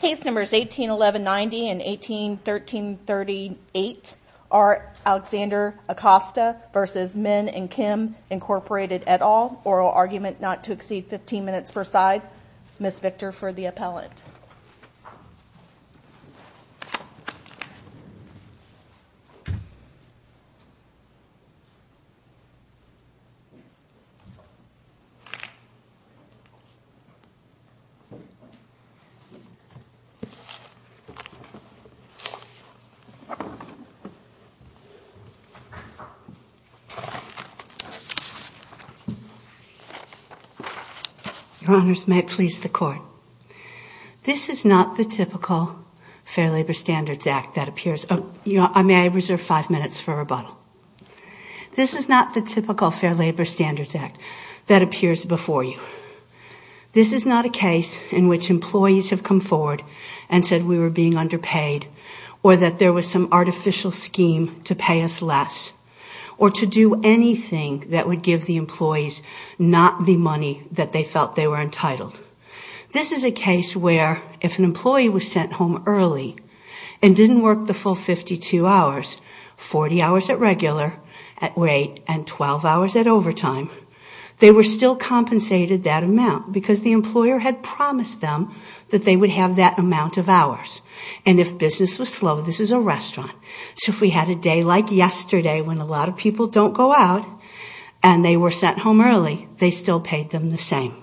Case Numbers 181190 and 181338 are Alexander Acosta v. Min and Kim, Incorporated, et al. Oral argument not to exceed 15 minutes per side. Ms. Victor for the appellant. Your Honors, may it please the Court. This is not the typical Fair Labor Standards Act that appears before you. This is not a case in which employees have come forward and said we were being underpaid, or that there was some artificial scheme to pay us less, or to do anything that would give the employees not the money that they felt they were entitled. This is a case where if an employee was sent home early and didn't work the full 52 hours, 40 hours at regular, at wait, and 12 hours at overtime, they were still compensated that amount because the employer had promised them that they would have that amount of hours. And if business was slow, this is a restaurant. So if we had a day like yesterday when a lot of people don't go out and they were sent home early, they still paid them the same.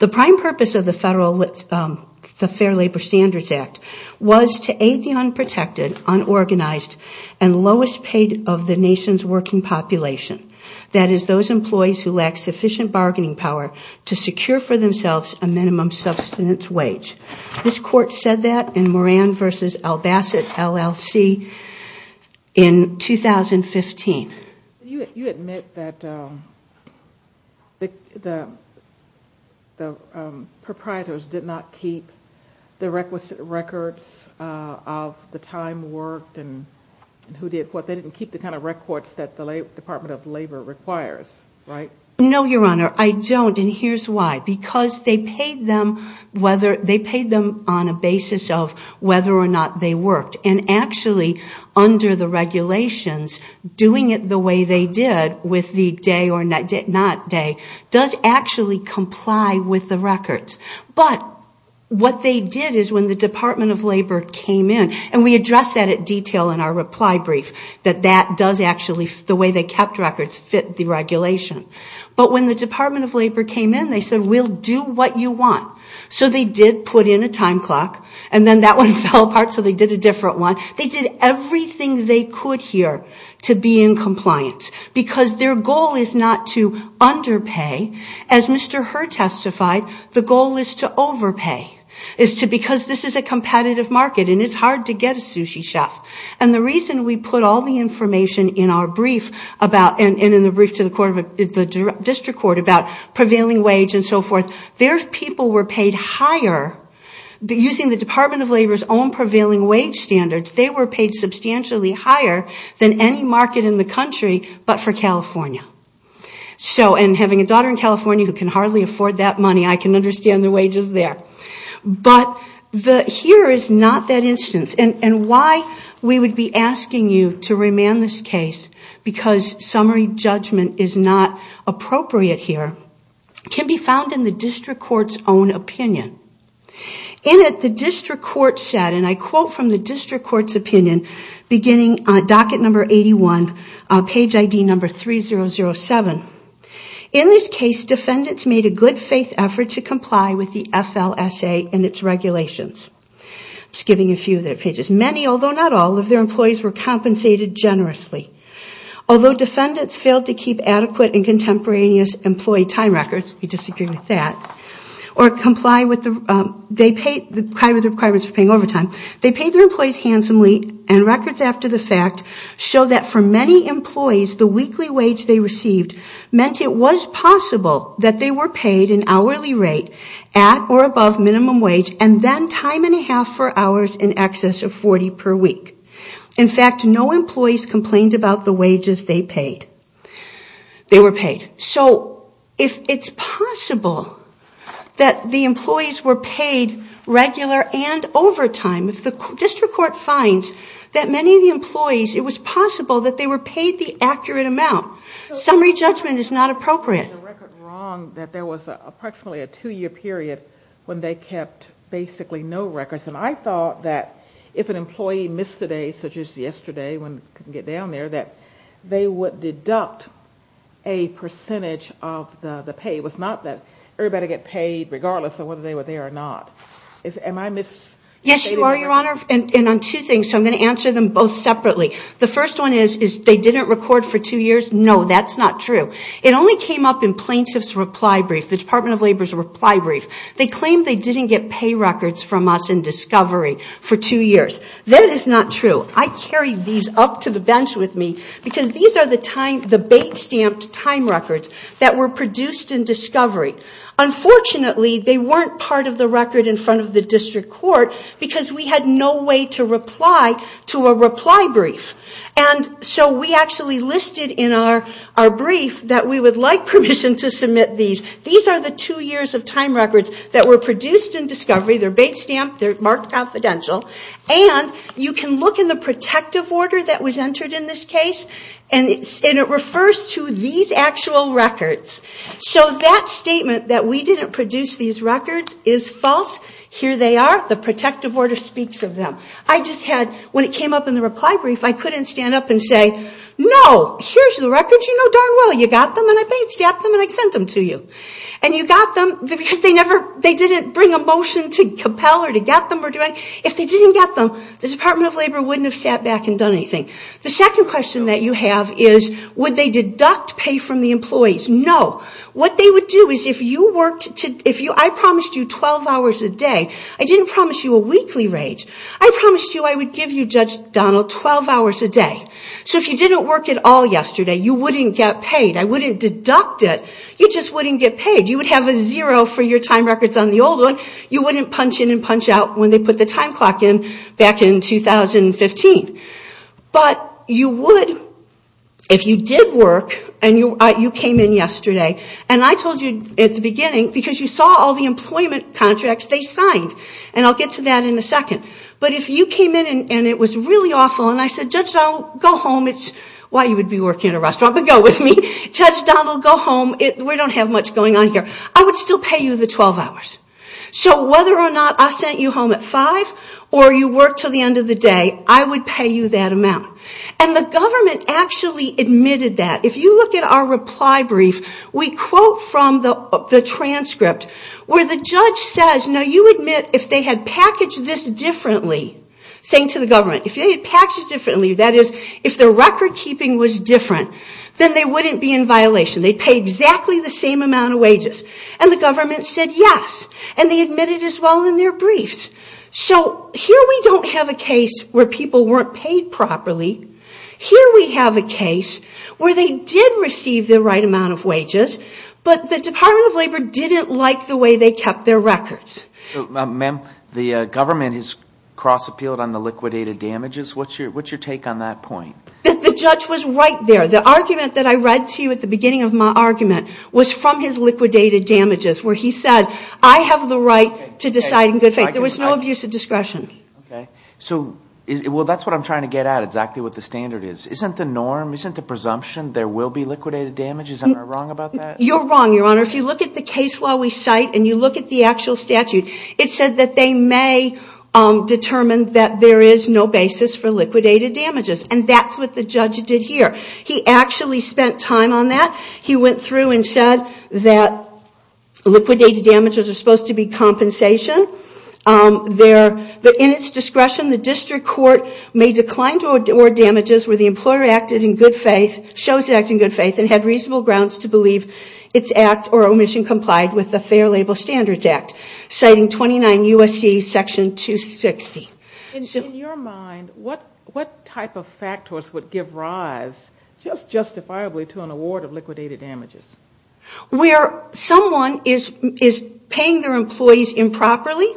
The prime purpose of the Fair Labor Standards Act was to aid the unprotected, unorganized, and lowest paid of the nation's working population. That is those employees who lack sufficient bargaining power to secure for themselves a minimum substance wage. This Court said that in Moran v. Albasset, LLC in 2015. You admit that the proprietors did not keep the requisite records of the time worked They didn't keep the kind of records that the Department of Labor requires, right? No, Your Honor, I don't, and here's why. Because they paid them on a basis of whether or not they worked. And actually, under the regulations, doing it the way they did with the day or not day does actually comply with the records. But what they did is when the Department of Labor came in, and we addressed that in detail in our reply brief, that that does actually, the way they kept records, fit the regulation. But when the Department of Labor came in, they said, we'll do what you want. So they did put in a time clock, and then that one fell apart so they did a different one. They did everything they could here to be in compliance because their goal is not to underpay. As Mr. Herr testified, the goal is to overpay. It's because this is a competitive market and it's hard to get a sushi chef. And the reason we put all the information in our brief about, and in the brief to the District Court about prevailing wage and so forth, their people were paid higher, using the Department of Labor's own prevailing wage standards, they were paid substantially higher than any market in the country but for California. And having a daughter in California who can hardly afford that money, I can understand the wages there. But here is not that instance. And why we would be asking you to remand this case, because summary judgment is not appropriate here, can be found in the District Court's own opinion. In it, the District Court said, and I quote from the District Court's opinion, beginning on docket number 81, page ID number 3007. In this case, defendants made a good faith effort to comply with the FLSA and its regulations. I'm skipping a few of their pages. Many, although not all, of their employees were compensated generously. Although defendants failed to keep adequate and contemporaneous employee time records, we disagree with that, or comply with the requirements for paying overtime, they paid their employees handsomely and records after the fact show that for many employees, the weekly wage they received meant it was possible that they were paid an hourly rate at or above minimum wage and then time and a half for hours in excess of 40 per week. In fact, no employees complained about the wages they paid. They were paid. So if it's possible that the employees were paid regular and overtime, if the District Court finds that many of the employees, it was possible that they were paid the accurate amount. Summary judgment is not appropriate. There was a record wrong that there was approximately a two-year period when they kept basically no records. And I thought that if an employee missed a day, such as yesterday when they couldn't get down there, that they would deduct a percentage of the pay. It was not that everybody would get paid regardless of whether they were there or not. Am I misstating that? Yes, you are, Your Honor. And on two things, so I'm going to answer them both separately. The first one is they didn't record for two years. No, that's not true. It only came up in plaintiff's reply brief, the Department of Labor's reply brief. They claimed they didn't get pay records from us in discovery for two years. That is not true. I carried these up to the bench with me because these are the time, the bait-stamped time records that were produced in discovery. Unfortunately, they weren't part of the record in front of the district court because we had no way to reply to a reply brief. And so we actually listed in our brief that we would like permission to submit these. These are the two years of time records that were produced in discovery. They're bait-stamped. They're marked confidential. And you can look in the protective order that was entered in this case, and it refers to these actual records. So that statement that we didn't produce these records is false. Here they are. The protective order speaks of them. I just had, when it came up in the reply brief, I couldn't stand up and say, no, here's the records you know darn well. You got them, and I bait-stamped them, and I sent them to you. And you got them because they didn't bring a motion to compel or to get them. If they didn't get them, the Department of Labor wouldn't have sat back and done anything. The second question that you have is would they deduct pay from the employees? No. What they would do is if you worked, I promised you 12 hours a day. I didn't promise you a weekly rate. I promised you I would give you, Judge Donald, 12 hours a day. So if you didn't work at all yesterday, you wouldn't get paid. I wouldn't deduct it. You just wouldn't get paid. You would have a zero for your time records on the old one. You wouldn't punch in and punch out when they put the time clock in back in 2015. But you would if you did work and you came in yesterday. And I told you at the beginning, because you saw all the employment contracts they signed. And I'll get to that in a second. But if you came in and it was really awful and I said, Judge Donald, go home. It's why you would be working in a restaurant, but go with me. Judge Donald, go home. We don't have much going on here. I would still pay you the 12 hours. So whether or not I sent you home at 5 or you worked until the end of the day, I would pay you that amount. And the government actually admitted that. If you look at our reply brief, we quote from the transcript where the judge says, now you admit if they had packaged this differently, saying to the government, if they had packaged it differently, that is, if the record keeping was different, then they wouldn't be in violation. They'd pay exactly the same amount of wages. And the government said yes. And they admitted as well in their briefs. So here we don't have a case where people weren't paid properly. Here we have a case where they did receive the right amount of wages, but the Department of Labor didn't like the way they kept their records. Ma'am, the government has cross-appealed on the liquidated damages. What's your take on that point? The judge was right there. The argument that I read to you at the beginning of my argument was from his liquidated damages where he said, I have the right to decide in good faith. There was no abuse of discretion. Okay. Well, that's what I'm trying to get at, exactly what the standard is. Isn't the norm, isn't the presumption there will be liquidated damages? Am I wrong about that? You're wrong, Your Honor. If you look at the case law we cite and you look at the actual statute, it said that they may determine that there is no basis for liquidated damages. And that's what the judge did here. He actually spent time on that. He went through and said that liquidated damages are supposed to be compensation. In its discretion, the district court may decline to award damages where the employer acted in good faith, shows acting in good faith, and had reasonable grounds to believe its act or omission complied with the Fair Label Standards Act, citing 29 U.S.C. Section 260. In your mind, what type of factors would give rise justifiably to an award of liquidated damages? Where someone is paying their employees improperly,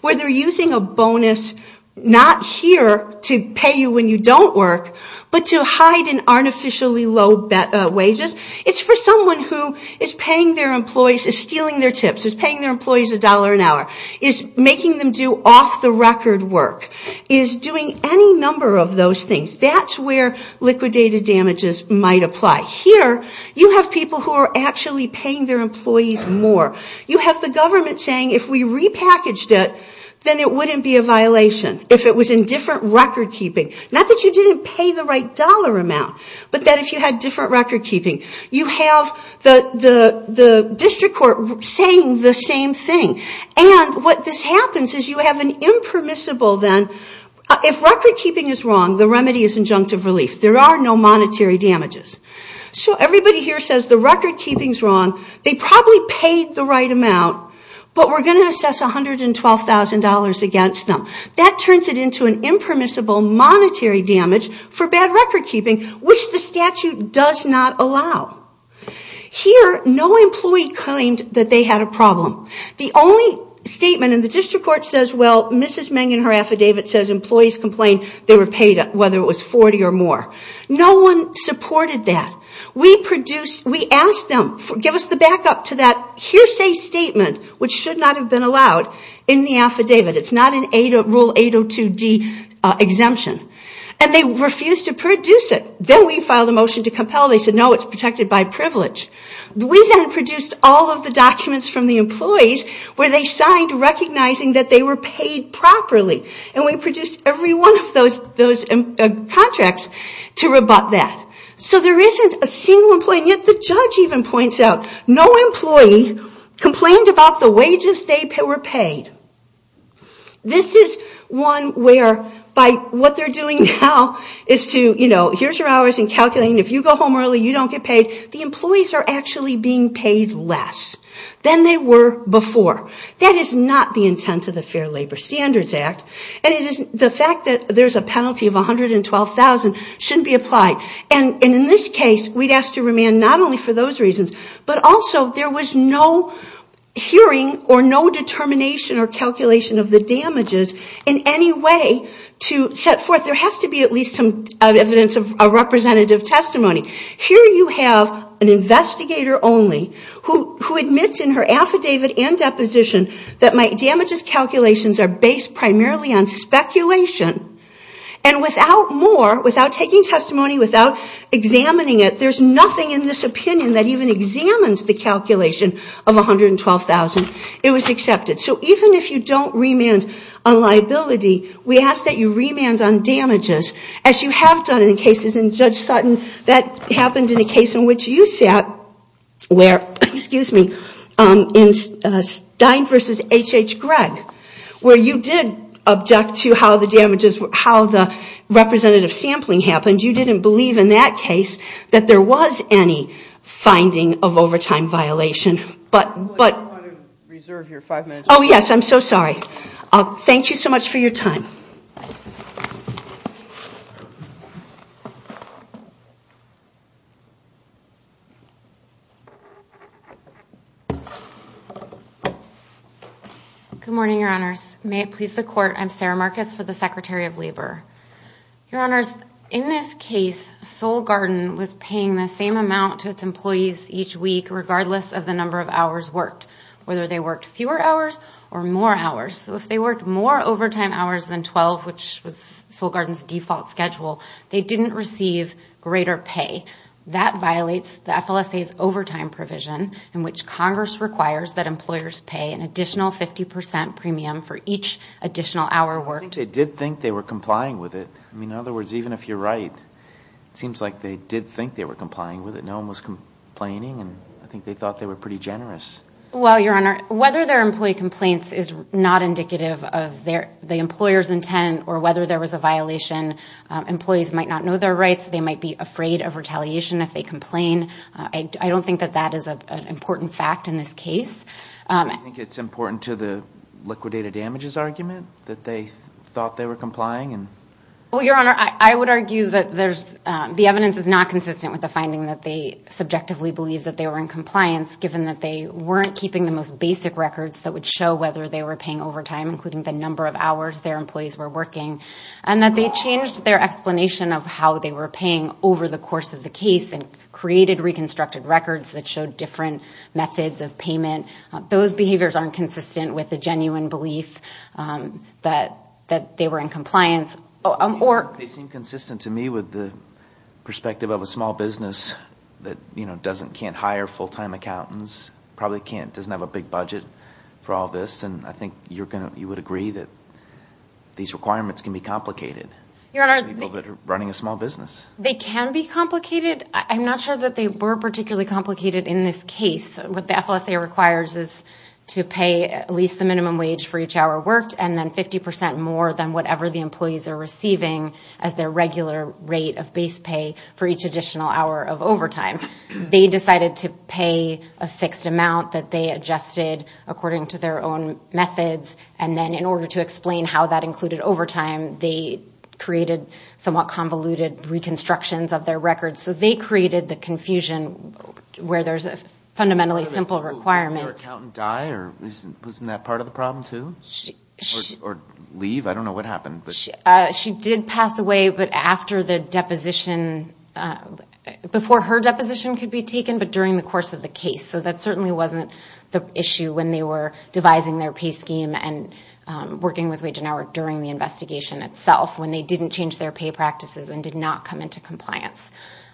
where they're using a bonus not here to pay you when you don't work, but to hide in artificially low wages. It's for someone who is paying their employees, is stealing their tips, is paying their employees a dollar an hour, is making them do off-the-record work, is doing any number of those things. That's where liquidated damages might apply. Here, you have people who are actually paying their employees more. You have the government saying, if we repackaged it, then it wouldn't be a violation if it was in different record-keeping. Not that you didn't pay the right dollar amount, but that if you had different record-keeping. You have the district court saying the same thing. What this happens is you have an impermissible, if record-keeping is wrong, the remedy is injunctive relief. There are no monetary damages. Everybody here says the record-keeping is wrong. They probably paid the right amount, but we're going to assess $112,000 against them. That turns it into an impermissible monetary damage for bad record-keeping, which the statute does not allow. Here, no employee claimed that they had a problem. The only statement in the district court says, well, Mrs. Meng in her affidavit says employees complained they were paid, whether it was $40,000 or more. No one supported that. We asked them to give us the backup to that hearsay statement, which should not have been allowed in the affidavit. It's not in Rule 802D exemption. They refused to produce it. Then we filed a motion to compel. They said, no, it's protected by privilege. We then produced all of the documents from the employees where they signed recognizing that they were paid properly. We produced every one of those contracts to rebut that. So there isn't a single employee. Yet the judge even points out, no employee complained about the wages they were paid. This is one where, by what they're doing now, is to, you know, here's your hours in calculating. If you go home early, you don't get paid. The employees are actually being paid less than they were before. That is not the intent of the Fair Labor Standards Act. And the fact that there's a penalty of $112,000 shouldn't be applied. And in this case, we'd ask to remand not only for those reasons, but also there was no hearing or no determination or calculation of the damages in any way to set forth. There has to be at least some evidence of representative testimony. Here you have an investigator only who admits in her affidavit and deposition that my damages calculations are based primarily on speculation. And without more, without taking testimony, without examining it, there's nothing in this opinion that even examines the calculation of $112,000. It was accepted. So even if you don't remand on liability, we ask that you remand on damages, as you have done in cases, and Judge Sutton, that happened in a case in which you sat, where, excuse me, in Stein v. H.H. Gregg, where you did object to how the damages, how the representative sampling happened. You didn't believe in that case that there was any finding of overtime violation. But, but... I want to reserve your five minutes. Oh, yes, I'm so sorry. Thank you so much for your time. Thank you. Good morning, Your Honors. May it please the Court, I'm Sarah Marcus for the Secretary of Labor. Your Honors, in this case, Soul Garden was paying the same amount to its employees each week, regardless of the number of hours worked, whether they worked fewer hours or more hours. So if they worked more overtime hours than 12, which was Soul Garden's default schedule, they didn't receive greater pay. That violates the FLSA's overtime provision, in which Congress requires that employers pay an additional 50% premium for each additional hour worked. I think they did think they were complying with it. I mean, in other words, even if you're right, it seems like they did think they were complying with it. No one was complaining, and I think they thought they were pretty generous. Well, Your Honor, whether their employee complaints is not indicative of the employer's intent, or whether there was a violation, employees might not know their rights, they might be afraid of retaliation if they complain. I don't think that that is an important fact in this case. I think it's important to the liquidated damages argument, that they thought they were complying. Well, Your Honor, I would argue that the evidence is not consistent with the finding that they subjectively believe that they were in compliance, given that they weren't keeping the most basic records that would show whether they were paying overtime, including the number of hours their employees were working, and that they changed their explanation of how they were paying over the course of the case, and created reconstructed records that showed different methods of payment. Those behaviors aren't consistent with the genuine belief that they were in compliance. They seem consistent to me with the perspective of a small business that, you know, can't hire full-time accountants, probably doesn't have a big budget for all this, and I think you would agree that these requirements can be complicated for people that are running a small business. They can be complicated. I'm not sure that they were particularly complicated in this case. What the FLSA requires is to pay at least the minimum wage for each hour worked, and then 50% more than whatever the employees are receiving as their regular rate of base pay for each additional hour of overtime. They decided to pay a fixed amount that they adjusted according to their own methods, and then in order to explain how that included overtime, they created somewhat convoluted reconstructions of their records. So they created the confusion where there's a fundamentally simple requirement. Did her accountant die? Wasn't that part of the problem too? Or leave? I don't know what happened. She did pass away, but after the deposition, before her deposition could be taken, but during the course of the case. So that certainly wasn't the issue when they were devising their pay scheme and working with Wage and Hour during the investigation itself when they didn't change their pay practices and did not come into compliance.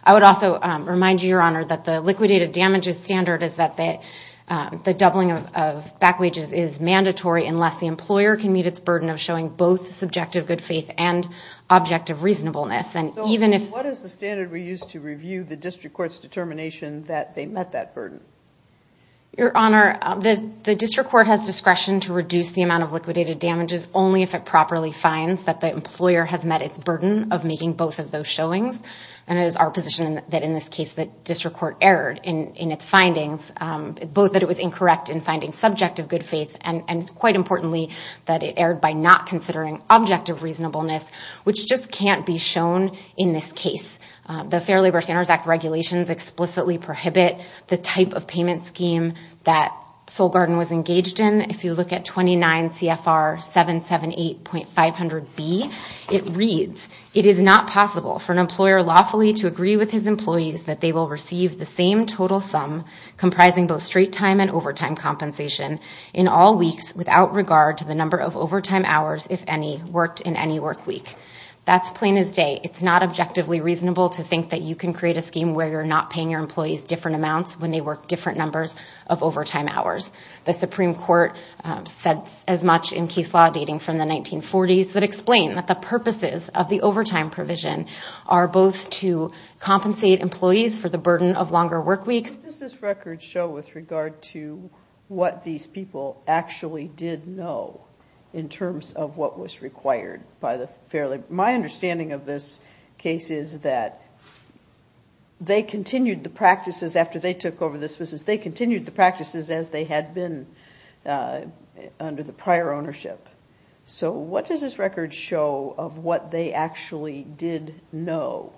I would also remind you, Your Honor, that the liquidated damages standard is that the doubling of back wages is mandatory unless the employer can meet its burden of showing both subjective good faith and objective reasonableness. So what is the standard we use to review the district court's determination that they met that burden? Your Honor, the district court has discretion to reduce the amount of liquidated damages only if it properly finds that the employer has met its burden of making both of those showings, and it is our position that in this case the district court erred in its findings, both that it was incorrect in finding subjective good faith, and quite importantly, that it erred by not considering objective reasonableness, which just can't be shown in this case. The Fair Labor Standards Act regulations explicitly prohibit the type of payment scheme that Soul Garden was engaged in. If you look at 29 CFR 778.500B, it reads, it is not possible for an employer lawfully to agree with his employees that they will receive the same total sum comprising both straight time and all weeks without regard to the number of overtime hours, if any, worked in any work week. That's plain as day. It's not objectively reasonable to think that you can create a scheme where you're not paying your employees different amounts when they work different numbers of overtime hours. The Supreme Court said as much in case law dating from the 1940s that explain that the purposes of the overtime provision are both to compensate employees for the burden of longer work weeks. What does this record show with regard to what these people actually did know in terms of what was required by the Fair Labor Standards Act? My understanding of this case is that they continued the practices after they took over this business, they continued the practices as they had been under the prior ownership. So what does this record show of what they actually did know?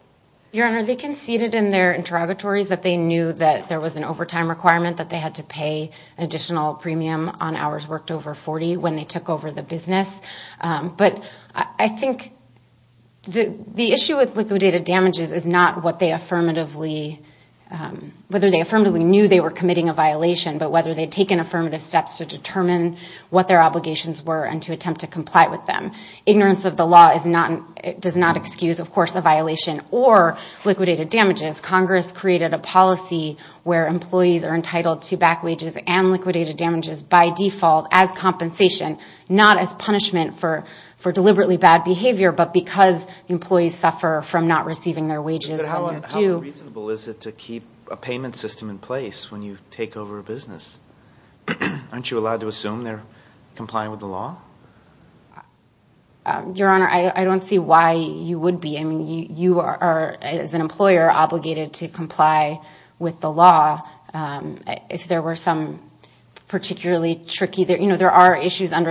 Your Honor, they conceded in their interrogatories that they knew that there was an overtime requirement that they had to pay additional premium on hours worked over 40 when they took over the business. But I think the issue with liquidated damages is not what they affirmatively, whether they affirmatively knew they were committing a violation, but whether they'd taken affirmative steps to determine what their obligations were and to attempt to comply with them. Ignorance of the law does not excuse, of course, a violation or liquidated damages. Congress created a policy where employees are entitled to back wages and liquidated damages by default as compensation, not as punishment for deliberately bad behavior, but because employees suffer from not receiving their wages. How reasonable is it to keep a payment system in place when you take over a business? Aren't you allowed to assume they're complying with the law? Your Honor, I don't see why you would be. You are, as an employer, obligated to comply with the law. If there were some particularly tricky, there are issues that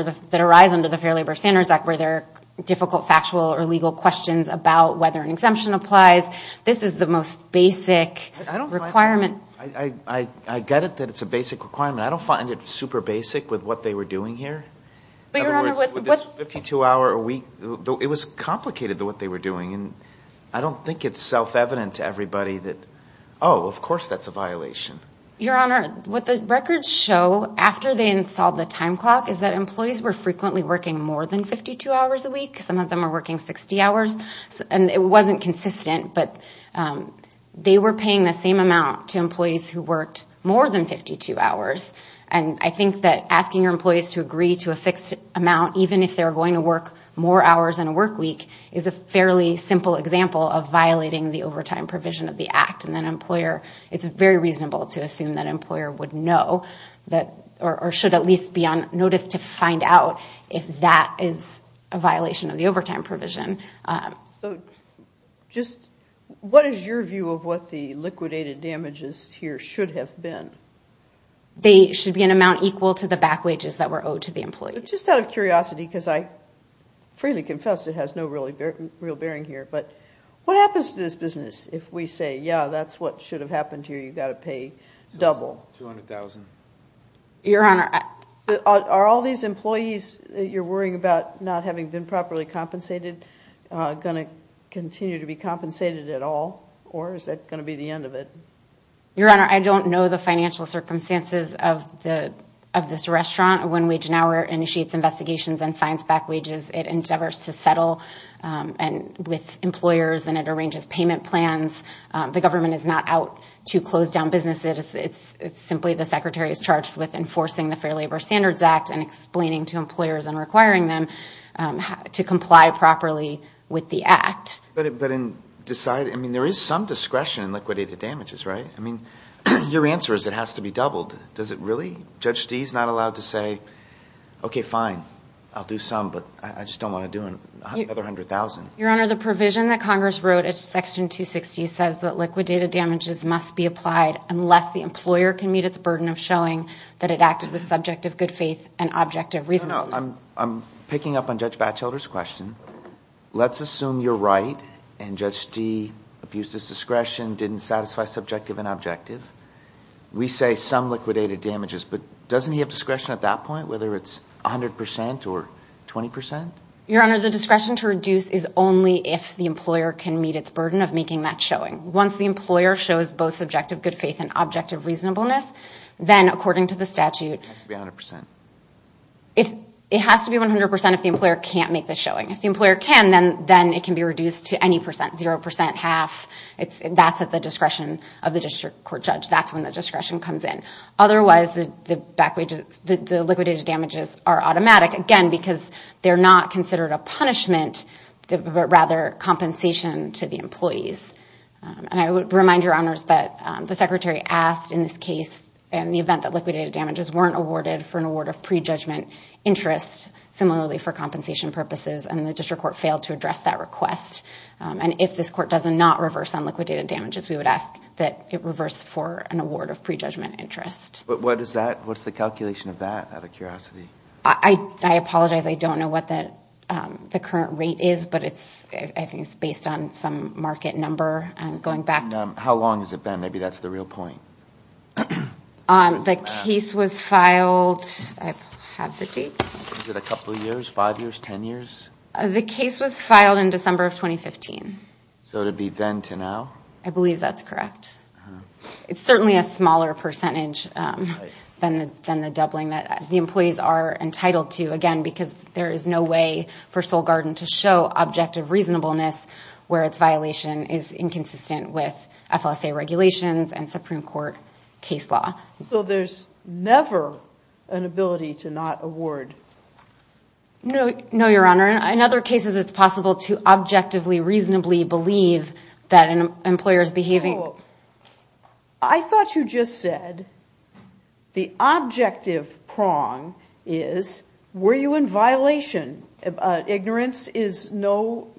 arise under the Fair Labor Standards Act where there are difficult factual or legal questions about whether an exemption applies. This is the most basic requirement. I get it that it's a basic requirement. I don't find it super basic with what they were doing here. In other words, with this 52-hour a week, it was complicated with what they were doing. I don't think it's self-evident to everybody that, oh, of course that's a violation. Your Honor, what the records show after they installed the time clock is that employees were frequently working more than 52 hours a week. Some of them were working 60 hours. It wasn't consistent, but they were paying the same amount to employees who worked more than 52 hours. I think that asking your employees to agree to a fixed amount, even if they're going to work more hours in a work week, is a fairly simple example of violating the overtime provision of the Act. It's very reasonable to assume that an employer would know, or should at least be on notice to find out if that is a violation of the overtime provision. What is your view of what the liquidated damages here should have been? They should be an amount equal to the back wages that were owed to the employees. Just out of curiosity, because I freely confess it has no real bearing here, but what happens to this business if we say, yeah, that's what should have happened here, you've got to pay double? $200,000. Your Honor, are all these employees that you're worrying about not having been properly compensated going to continue to be compensated at all, or is that going to be the end of it? Your Honor, I don't know the financial circumstances of this restaurant. When Wage and Hour initiates investigations and finds back wages, it endeavors to settle with employers and it arranges payment plans. The government is not out to close down businesses. It's simply the Secretary is charged with enforcing the Fair Labor Standards Act and explaining to employers and requiring them to comply properly with the Act. But in deciding, I mean there is some discretion in liquidated damages, right? I mean, your answer is it has to be doubled. Does it really? Judge Dee is not allowed to say, okay, fine, I'll do some, but I just don't want to do another $100,000. Your Honor, the provision that Congress wrote in Section 260 says that liquidated damages must be applied unless the employer can meet its burden of showing that it acted with subjective good faith and objective reasonableness. No, I'm picking up on Judge Batchelder's question. Let's assume you're right and Judge Dee abused his discretion, didn't satisfy subjective and objective. We say some liquidated damages, but doesn't he have discretion at that point, whether it's 100% or 20%? Your Honor, the discretion to reduce is only if the employer can meet its burden of making that showing. Once the employer shows both subjective good faith and objective reasonableness, then according to the statute, it has to be 100% if the employer can't make the showing. If the employer can, then it can be reduced to any percent, 0%, 0.5%. That's at the discretion of the district court judge. That's when the discretion comes in. Otherwise, the liquidated damages are automatic, again, because they're not considered a punishment, but rather compensation to the employees. I would remind your Honors that the Secretary asked in this case, in the event that liquidated damages weren't awarded for an award of prejudgment interest, similarly for compensation purposes, and the district court failed to address that request. If this court does not reverse on liquidated damages, we would ask that it reverse for an award of prejudgment interest. What is that? What's the calculation of that, out of curiosity? I apologize. I don't know what the current rate is, but I think it's based on some market number. I'm going back. How long has it been? Maybe that's the real point. The case was filed. I have the dates. Is it a couple of years? Five years? Ten years? The case was filed in December of 2015. So it would be then to now? I believe that's correct. It's certainly a smaller percentage than the doubling that the employees are entitled to, again, because there is no way for Soul Garden to show objective reasonableness where its violation is inconsistent with FLSA regulations and Supreme Court case law. So there's never an ability to not award? No, Your Honor. In other cases, it's possible to objectively reasonably believe that an employer is behaving. I thought you just said the objective prong is, were you in violation? Ignorance is no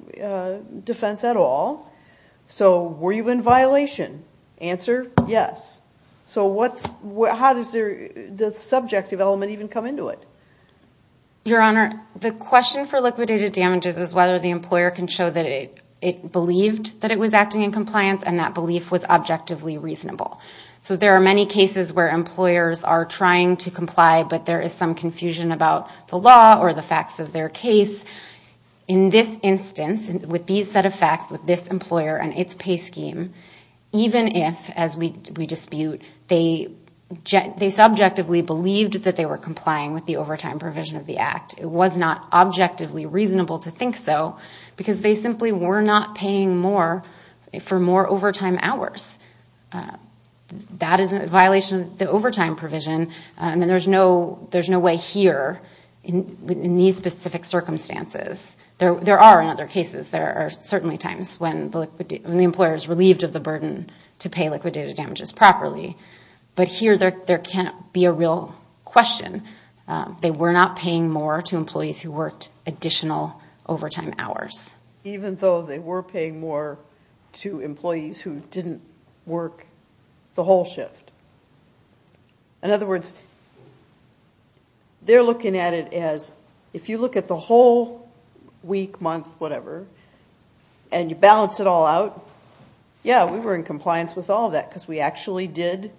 defense at all. So were you in violation? Answer, yes. So how does the subjective element even come into it? Your Honor, the question for liquidated damages is whether the employer can show that it believed that it was acting in compliance and that belief was objectively reasonable. So there are many cases where employers are trying to comply, but there is some confusion about the law or the facts of their case. In this instance, with these set of facts with this employer and its pay scheme, even if, as we dispute, they subjectively believed that they were complying with the overtime provision of the act, it was not objectively reasonable to think so because they simply were not paying more for more overtime hours. That is a violation of the overtime provision, and there's no way here in these specific circumstances. There are in other cases. There are certainly times when the employer is relieved of the burden to pay liquidated damages properly, but here there can't be a real question. They were not paying more to employees who worked additional overtime hours. Even though they were paying more to employees who didn't work the whole shift. In other words, they're looking at it as if you look at the whole week, month, whatever, and you balance it all out. Yeah, we were in compliance with all of that because we actually did,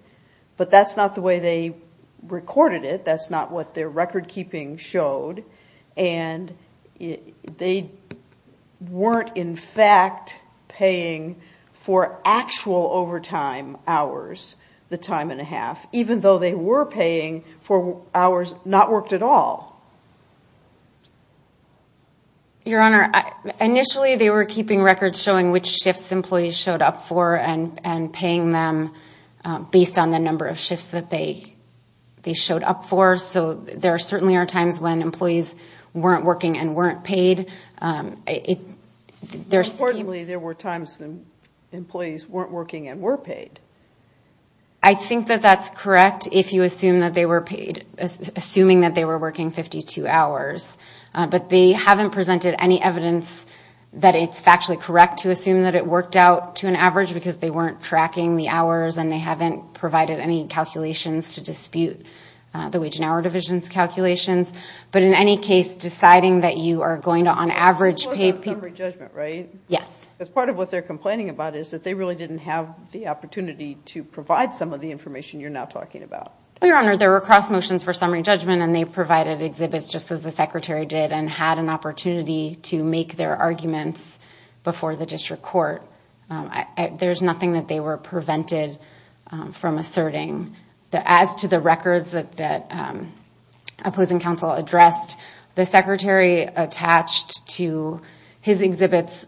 but that's not the way they recorded it. That's not what their record keeping showed, and they weren't, in fact, paying for actual overtime hours the time and a half, even though they were paying for hours not worked at all. Your Honor, initially they were keeping records showing which shifts employees showed up for and, and paying them based on the number of shifts that they, they showed up for. So there certainly are times when employees weren't working and weren't paid. Importantly, there were times when employees weren't working and were paid. I think that that's correct. If you assume that they were paid, assuming that they were working 52 hours, but they haven't presented any evidence that it's factually correct to assume that it worked out to an average because they weren't tracking the hours and they haven't provided any calculations to dispute the wage and hour divisions calculations. But in any case, deciding that you are going to, on average, pay people, right? Yes. As part of what they're complaining about is that they really didn't have the opportunity to provide some of the information you're now talking about. Your Honor, there were cross motions for summary judgment and they provided exhibits just as the secretary did and had an opportunity to make their arguments before the district court. I, there's nothing that they were prevented from asserting the, as to the records that, that opposing counsel addressed, the secretary attached to his exhibits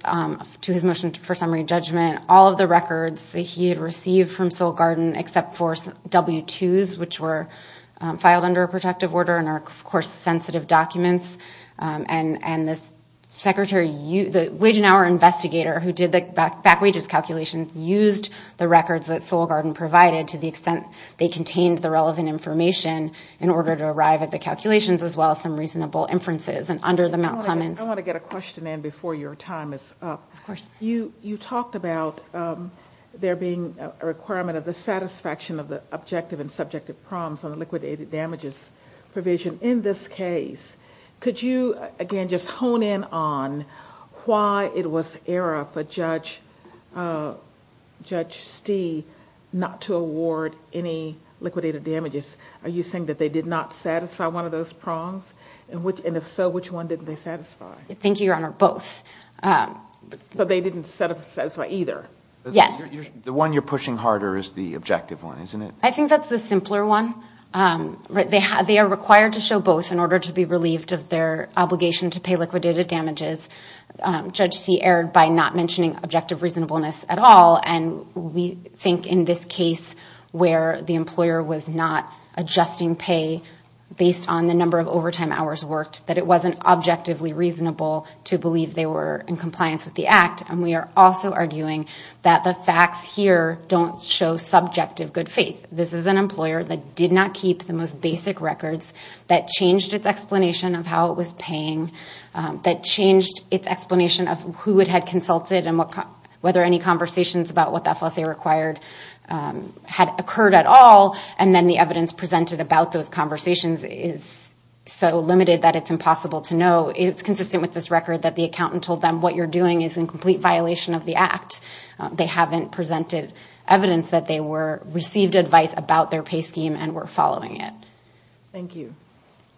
to his motion for summary judgment, all of the records that he had received from Soil Garden, except for W2s, which were filed under a protective order and are, of course, sensitive documents. And, and this secretary, the wage and hour investigator who did the back wages calculations, used the records that Soil Garden provided to the extent they contained the relevant information in order to arrive at the calculations, as well as some reasonable inferences. And under the Mount Clemens. I want to get a question in before your time is up. Of course. You, you talked about there being a requirement of the satisfaction of the objective and subjective prompts on the liquidated damages provision in this case. Could you again, just hone in on why it was error for judge, judge Stee, not to award any liquidated damages. Are you saying that they did not satisfy one of those prongs? and if so, which one didn't they satisfy? Thank you, Your Honor, both. But they didn't set up either. Yes. The one you're pushing harder is the objective one, isn't it? I think that's the simpler one. Right. They have, they are required to show both in order to be relieved of their obligation to pay liquidated damages. Judge C aired by not mentioning objective reasonableness at all. And we think in this case where the employer was not adjusting pay based on the number of overtime hours worked, that it wasn't objectively reasonable to believe they were in compliance with the act. And we are also arguing that the facts here don't show subjective good faith. This is an employer that did not keep the most basic records that changed its explanation of how it was paying that changed its explanation of who it had consulted and what, whether any conversations about what that FSA required had occurred at all. And then the evidence presented about those conversations is so limited that it's impossible to know. It's consistent with this record that the accountant told them, what you're doing is in complete violation of the act. They haven't presented evidence that they were received advice about their pay scheme and we're following it. Thank you.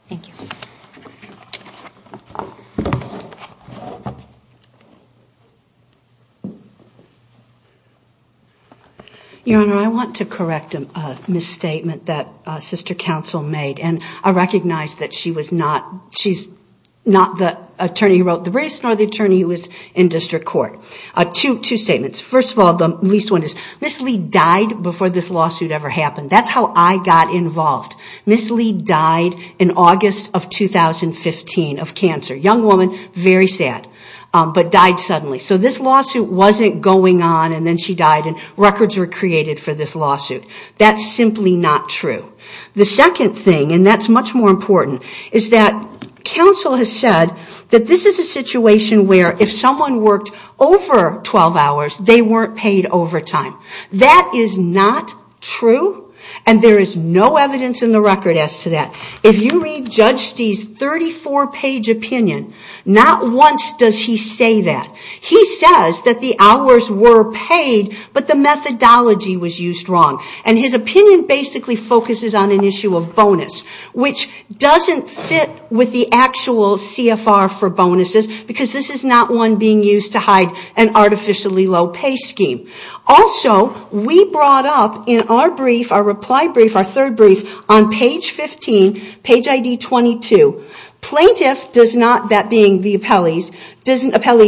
Thank you. Your Honor, I want to correct a misstatement that a sister counsel made and I recognize that she's not the attorney who wrote the briefs nor the attorney who was in district court. Two statements. First of all, the least one is Ms. Lee died before this lawsuit ever happened. That's how I got involved. Ms. Lee died in August of 2015 of cancer. Young woman, very sad, but died suddenly. So this lawsuit wasn't going on and then she died and records were created for this lawsuit. That's simply not true. The second thing, and that's much more important, is that counsel has said that this is a situation where if someone worked over 12 hours, they weren't paid overtime. That is not true and there is no evidence in the record as to that. If you read Judge Stee's 34-page opinion, not once does he say that. He says that the hours were paid, but the methodology was used wrong. His opinion basically focuses on an issue of bonus, which doesn't fit with the actual CFR for bonuses because this is not one being used to hide an artificially low pay scheme. Also, we brought up in our brief, our reply brief, our third brief, on page 15, page ID 22. Plaintiff, that being the appellee,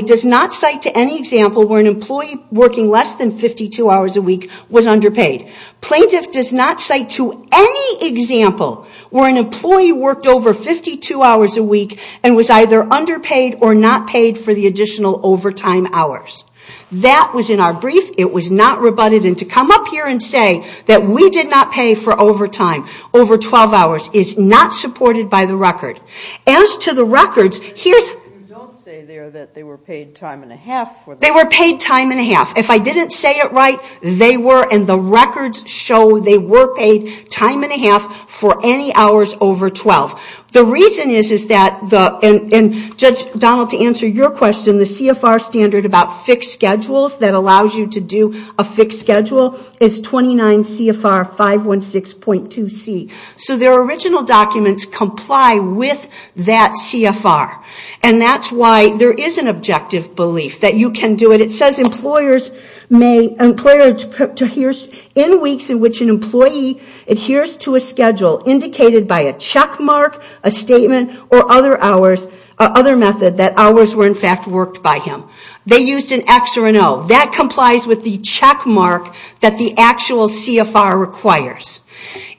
does not cite to any example where an employee working less than 52 hours a week was underpaid. Plaintiff does not cite to any example where an employee worked over 52 hours a week and was either underpaid or not paid for the additional overtime hours. That was in our brief. It was not rebutted, and to come up here and say that we did not pay for overtime over 12 hours is not supported by the record. As to the records, here's... You don't say there that they were paid time and a half. They were paid time and a half. If I didn't say it right, they were, and the records show they were paid time and a half for any hours over 12. The reason is that, and Judge Donald, to answer your question, the CFR standard about fixed schedules that allows you to do a fixed schedule is 29 CFR 516.2C. So their original documents comply with that CFR, and that's why there is an objective belief that you can do it. It says employers in weeks in which an employee adheres to a schedule indicated by a checkmark, a statement, or other hours, or other method, that hours were in fact worked by him. They used an X or an O. That complies with the checkmark that the actual CFR requires.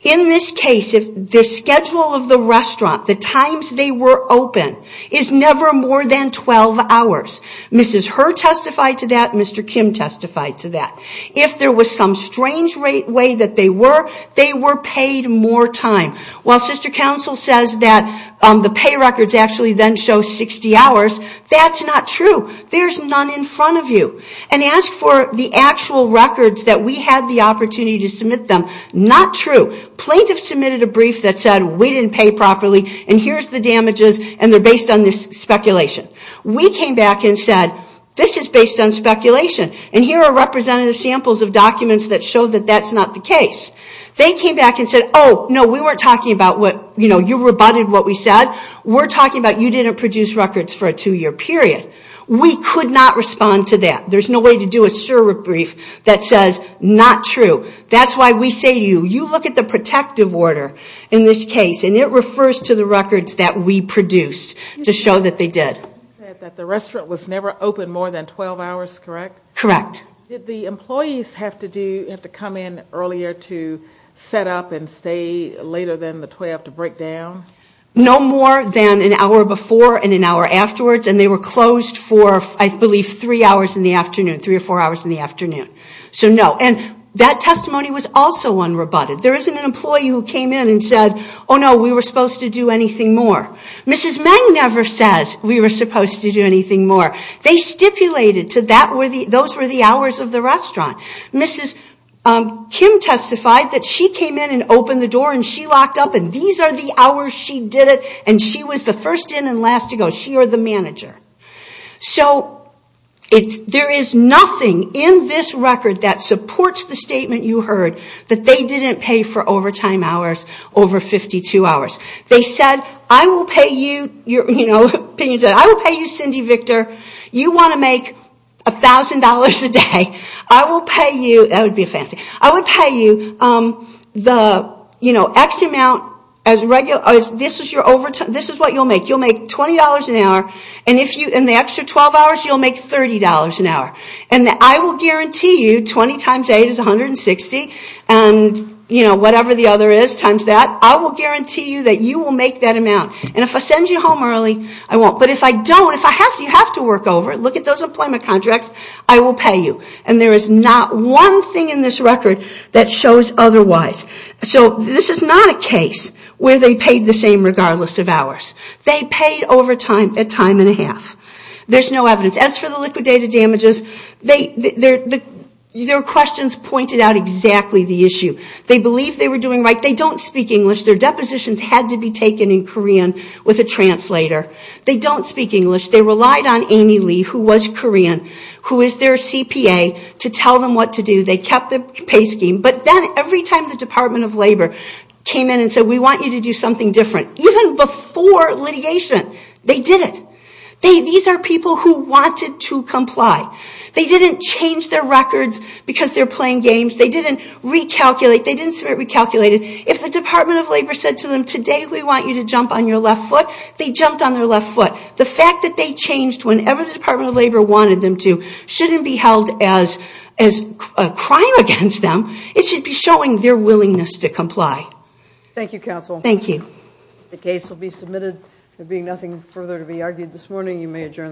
In this case, the schedule of the restaurant, the times they were open, is never more than 12 hours. Mrs. Herr testified to that. Mr. Kim testified to that. If there was some strange way that they were, they were paid more time. While Sister Counsel says that the pay records actually then show 60 hours, that's not true. There's none in front of you. And ask for the actual records that we had the opportunity to submit them, not true. Plaintiffs submitted a brief that said we didn't pay properly, and here's the damages, and they're based on this speculation. We came back and said, this is based on speculation, and here are representative samples of documents that show that that's not the case. They came back and said, oh, no, we weren't talking about what, you know, you rebutted what we said. We're talking about you didn't produce records for a two-year period. We could not respond to that. There's no way to do a SIR brief that says not true. That's why we say to you, you look at the protective order in this case, and it refers to the records that we produced to show that they did. You said that the restaurant was never open more than 12 hours, correct? Correct. Did the employees have to come in earlier to set up and stay later than the 12 to break down? No more than an hour before and an hour afterwards, and they were closed for, I believe, three hours in the afternoon, three or four hours in the afternoon. So, no, and that testimony was also unrebutted. There isn't an employee who came in and said, oh, no, we were supposed to do anything more. Mrs. Meng never says we were supposed to do anything more. They stipulated to that, those were the hours of the restaurant. Mrs. Kim testified that she came in and opened the door, and she locked up, and these are the hours she did it, and she was the first in and last to go. She or the manager. So, there is nothing in this record that supports the statement you heard that they didn't pay for overtime hours over 52 hours. They said, I will pay you, you know, I will pay you, Cindy Victor, you want to make $1,000 a day, I will pay you, that would be a fancy, I would pay you the, you know, X amount as regular, this is your overtime, this is what you'll make. You'll make $20 an hour, and the extra 12 hours, you'll make $30 an hour, and I will guarantee you 20 times 8 is 160, and, you know, whatever the other is times that, I will guarantee you that you will make that amount, and if I send you home early, I won't, but if I don't, if you have to work over, look at those employment contracts, I will pay you, and there is not one thing in this record that shows otherwise. So, this is not a case where they paid the same regardless of hours. They paid overtime a time and a half. There's no evidence. As for the liquidated damages, their questions pointed out exactly the issue. They believed they were doing right. They don't speak English. Their depositions had to be taken in Korean with a translator. They don't speak English. They relied on Amy Lee, who was Korean, who is their CPA, to tell them what to do. They kept the pay scheme, but then every time the Department of Labor came in and said, we want you to do something different, even before litigation, they did it. These are people who wanted to comply. They didn't change their records because they're playing games. They didn't recalculate. They didn't submit recalculated. If the Department of Labor said to them, today we want you to jump on your left foot, they jumped on their left foot. The fact that they changed whenever the Department of Labor wanted them to shouldn't be held as a crime against them. It should be showing their willingness to comply. Thank you, Counsel. Thank you. There will be nothing further to be argued this morning. You may adjourn the call.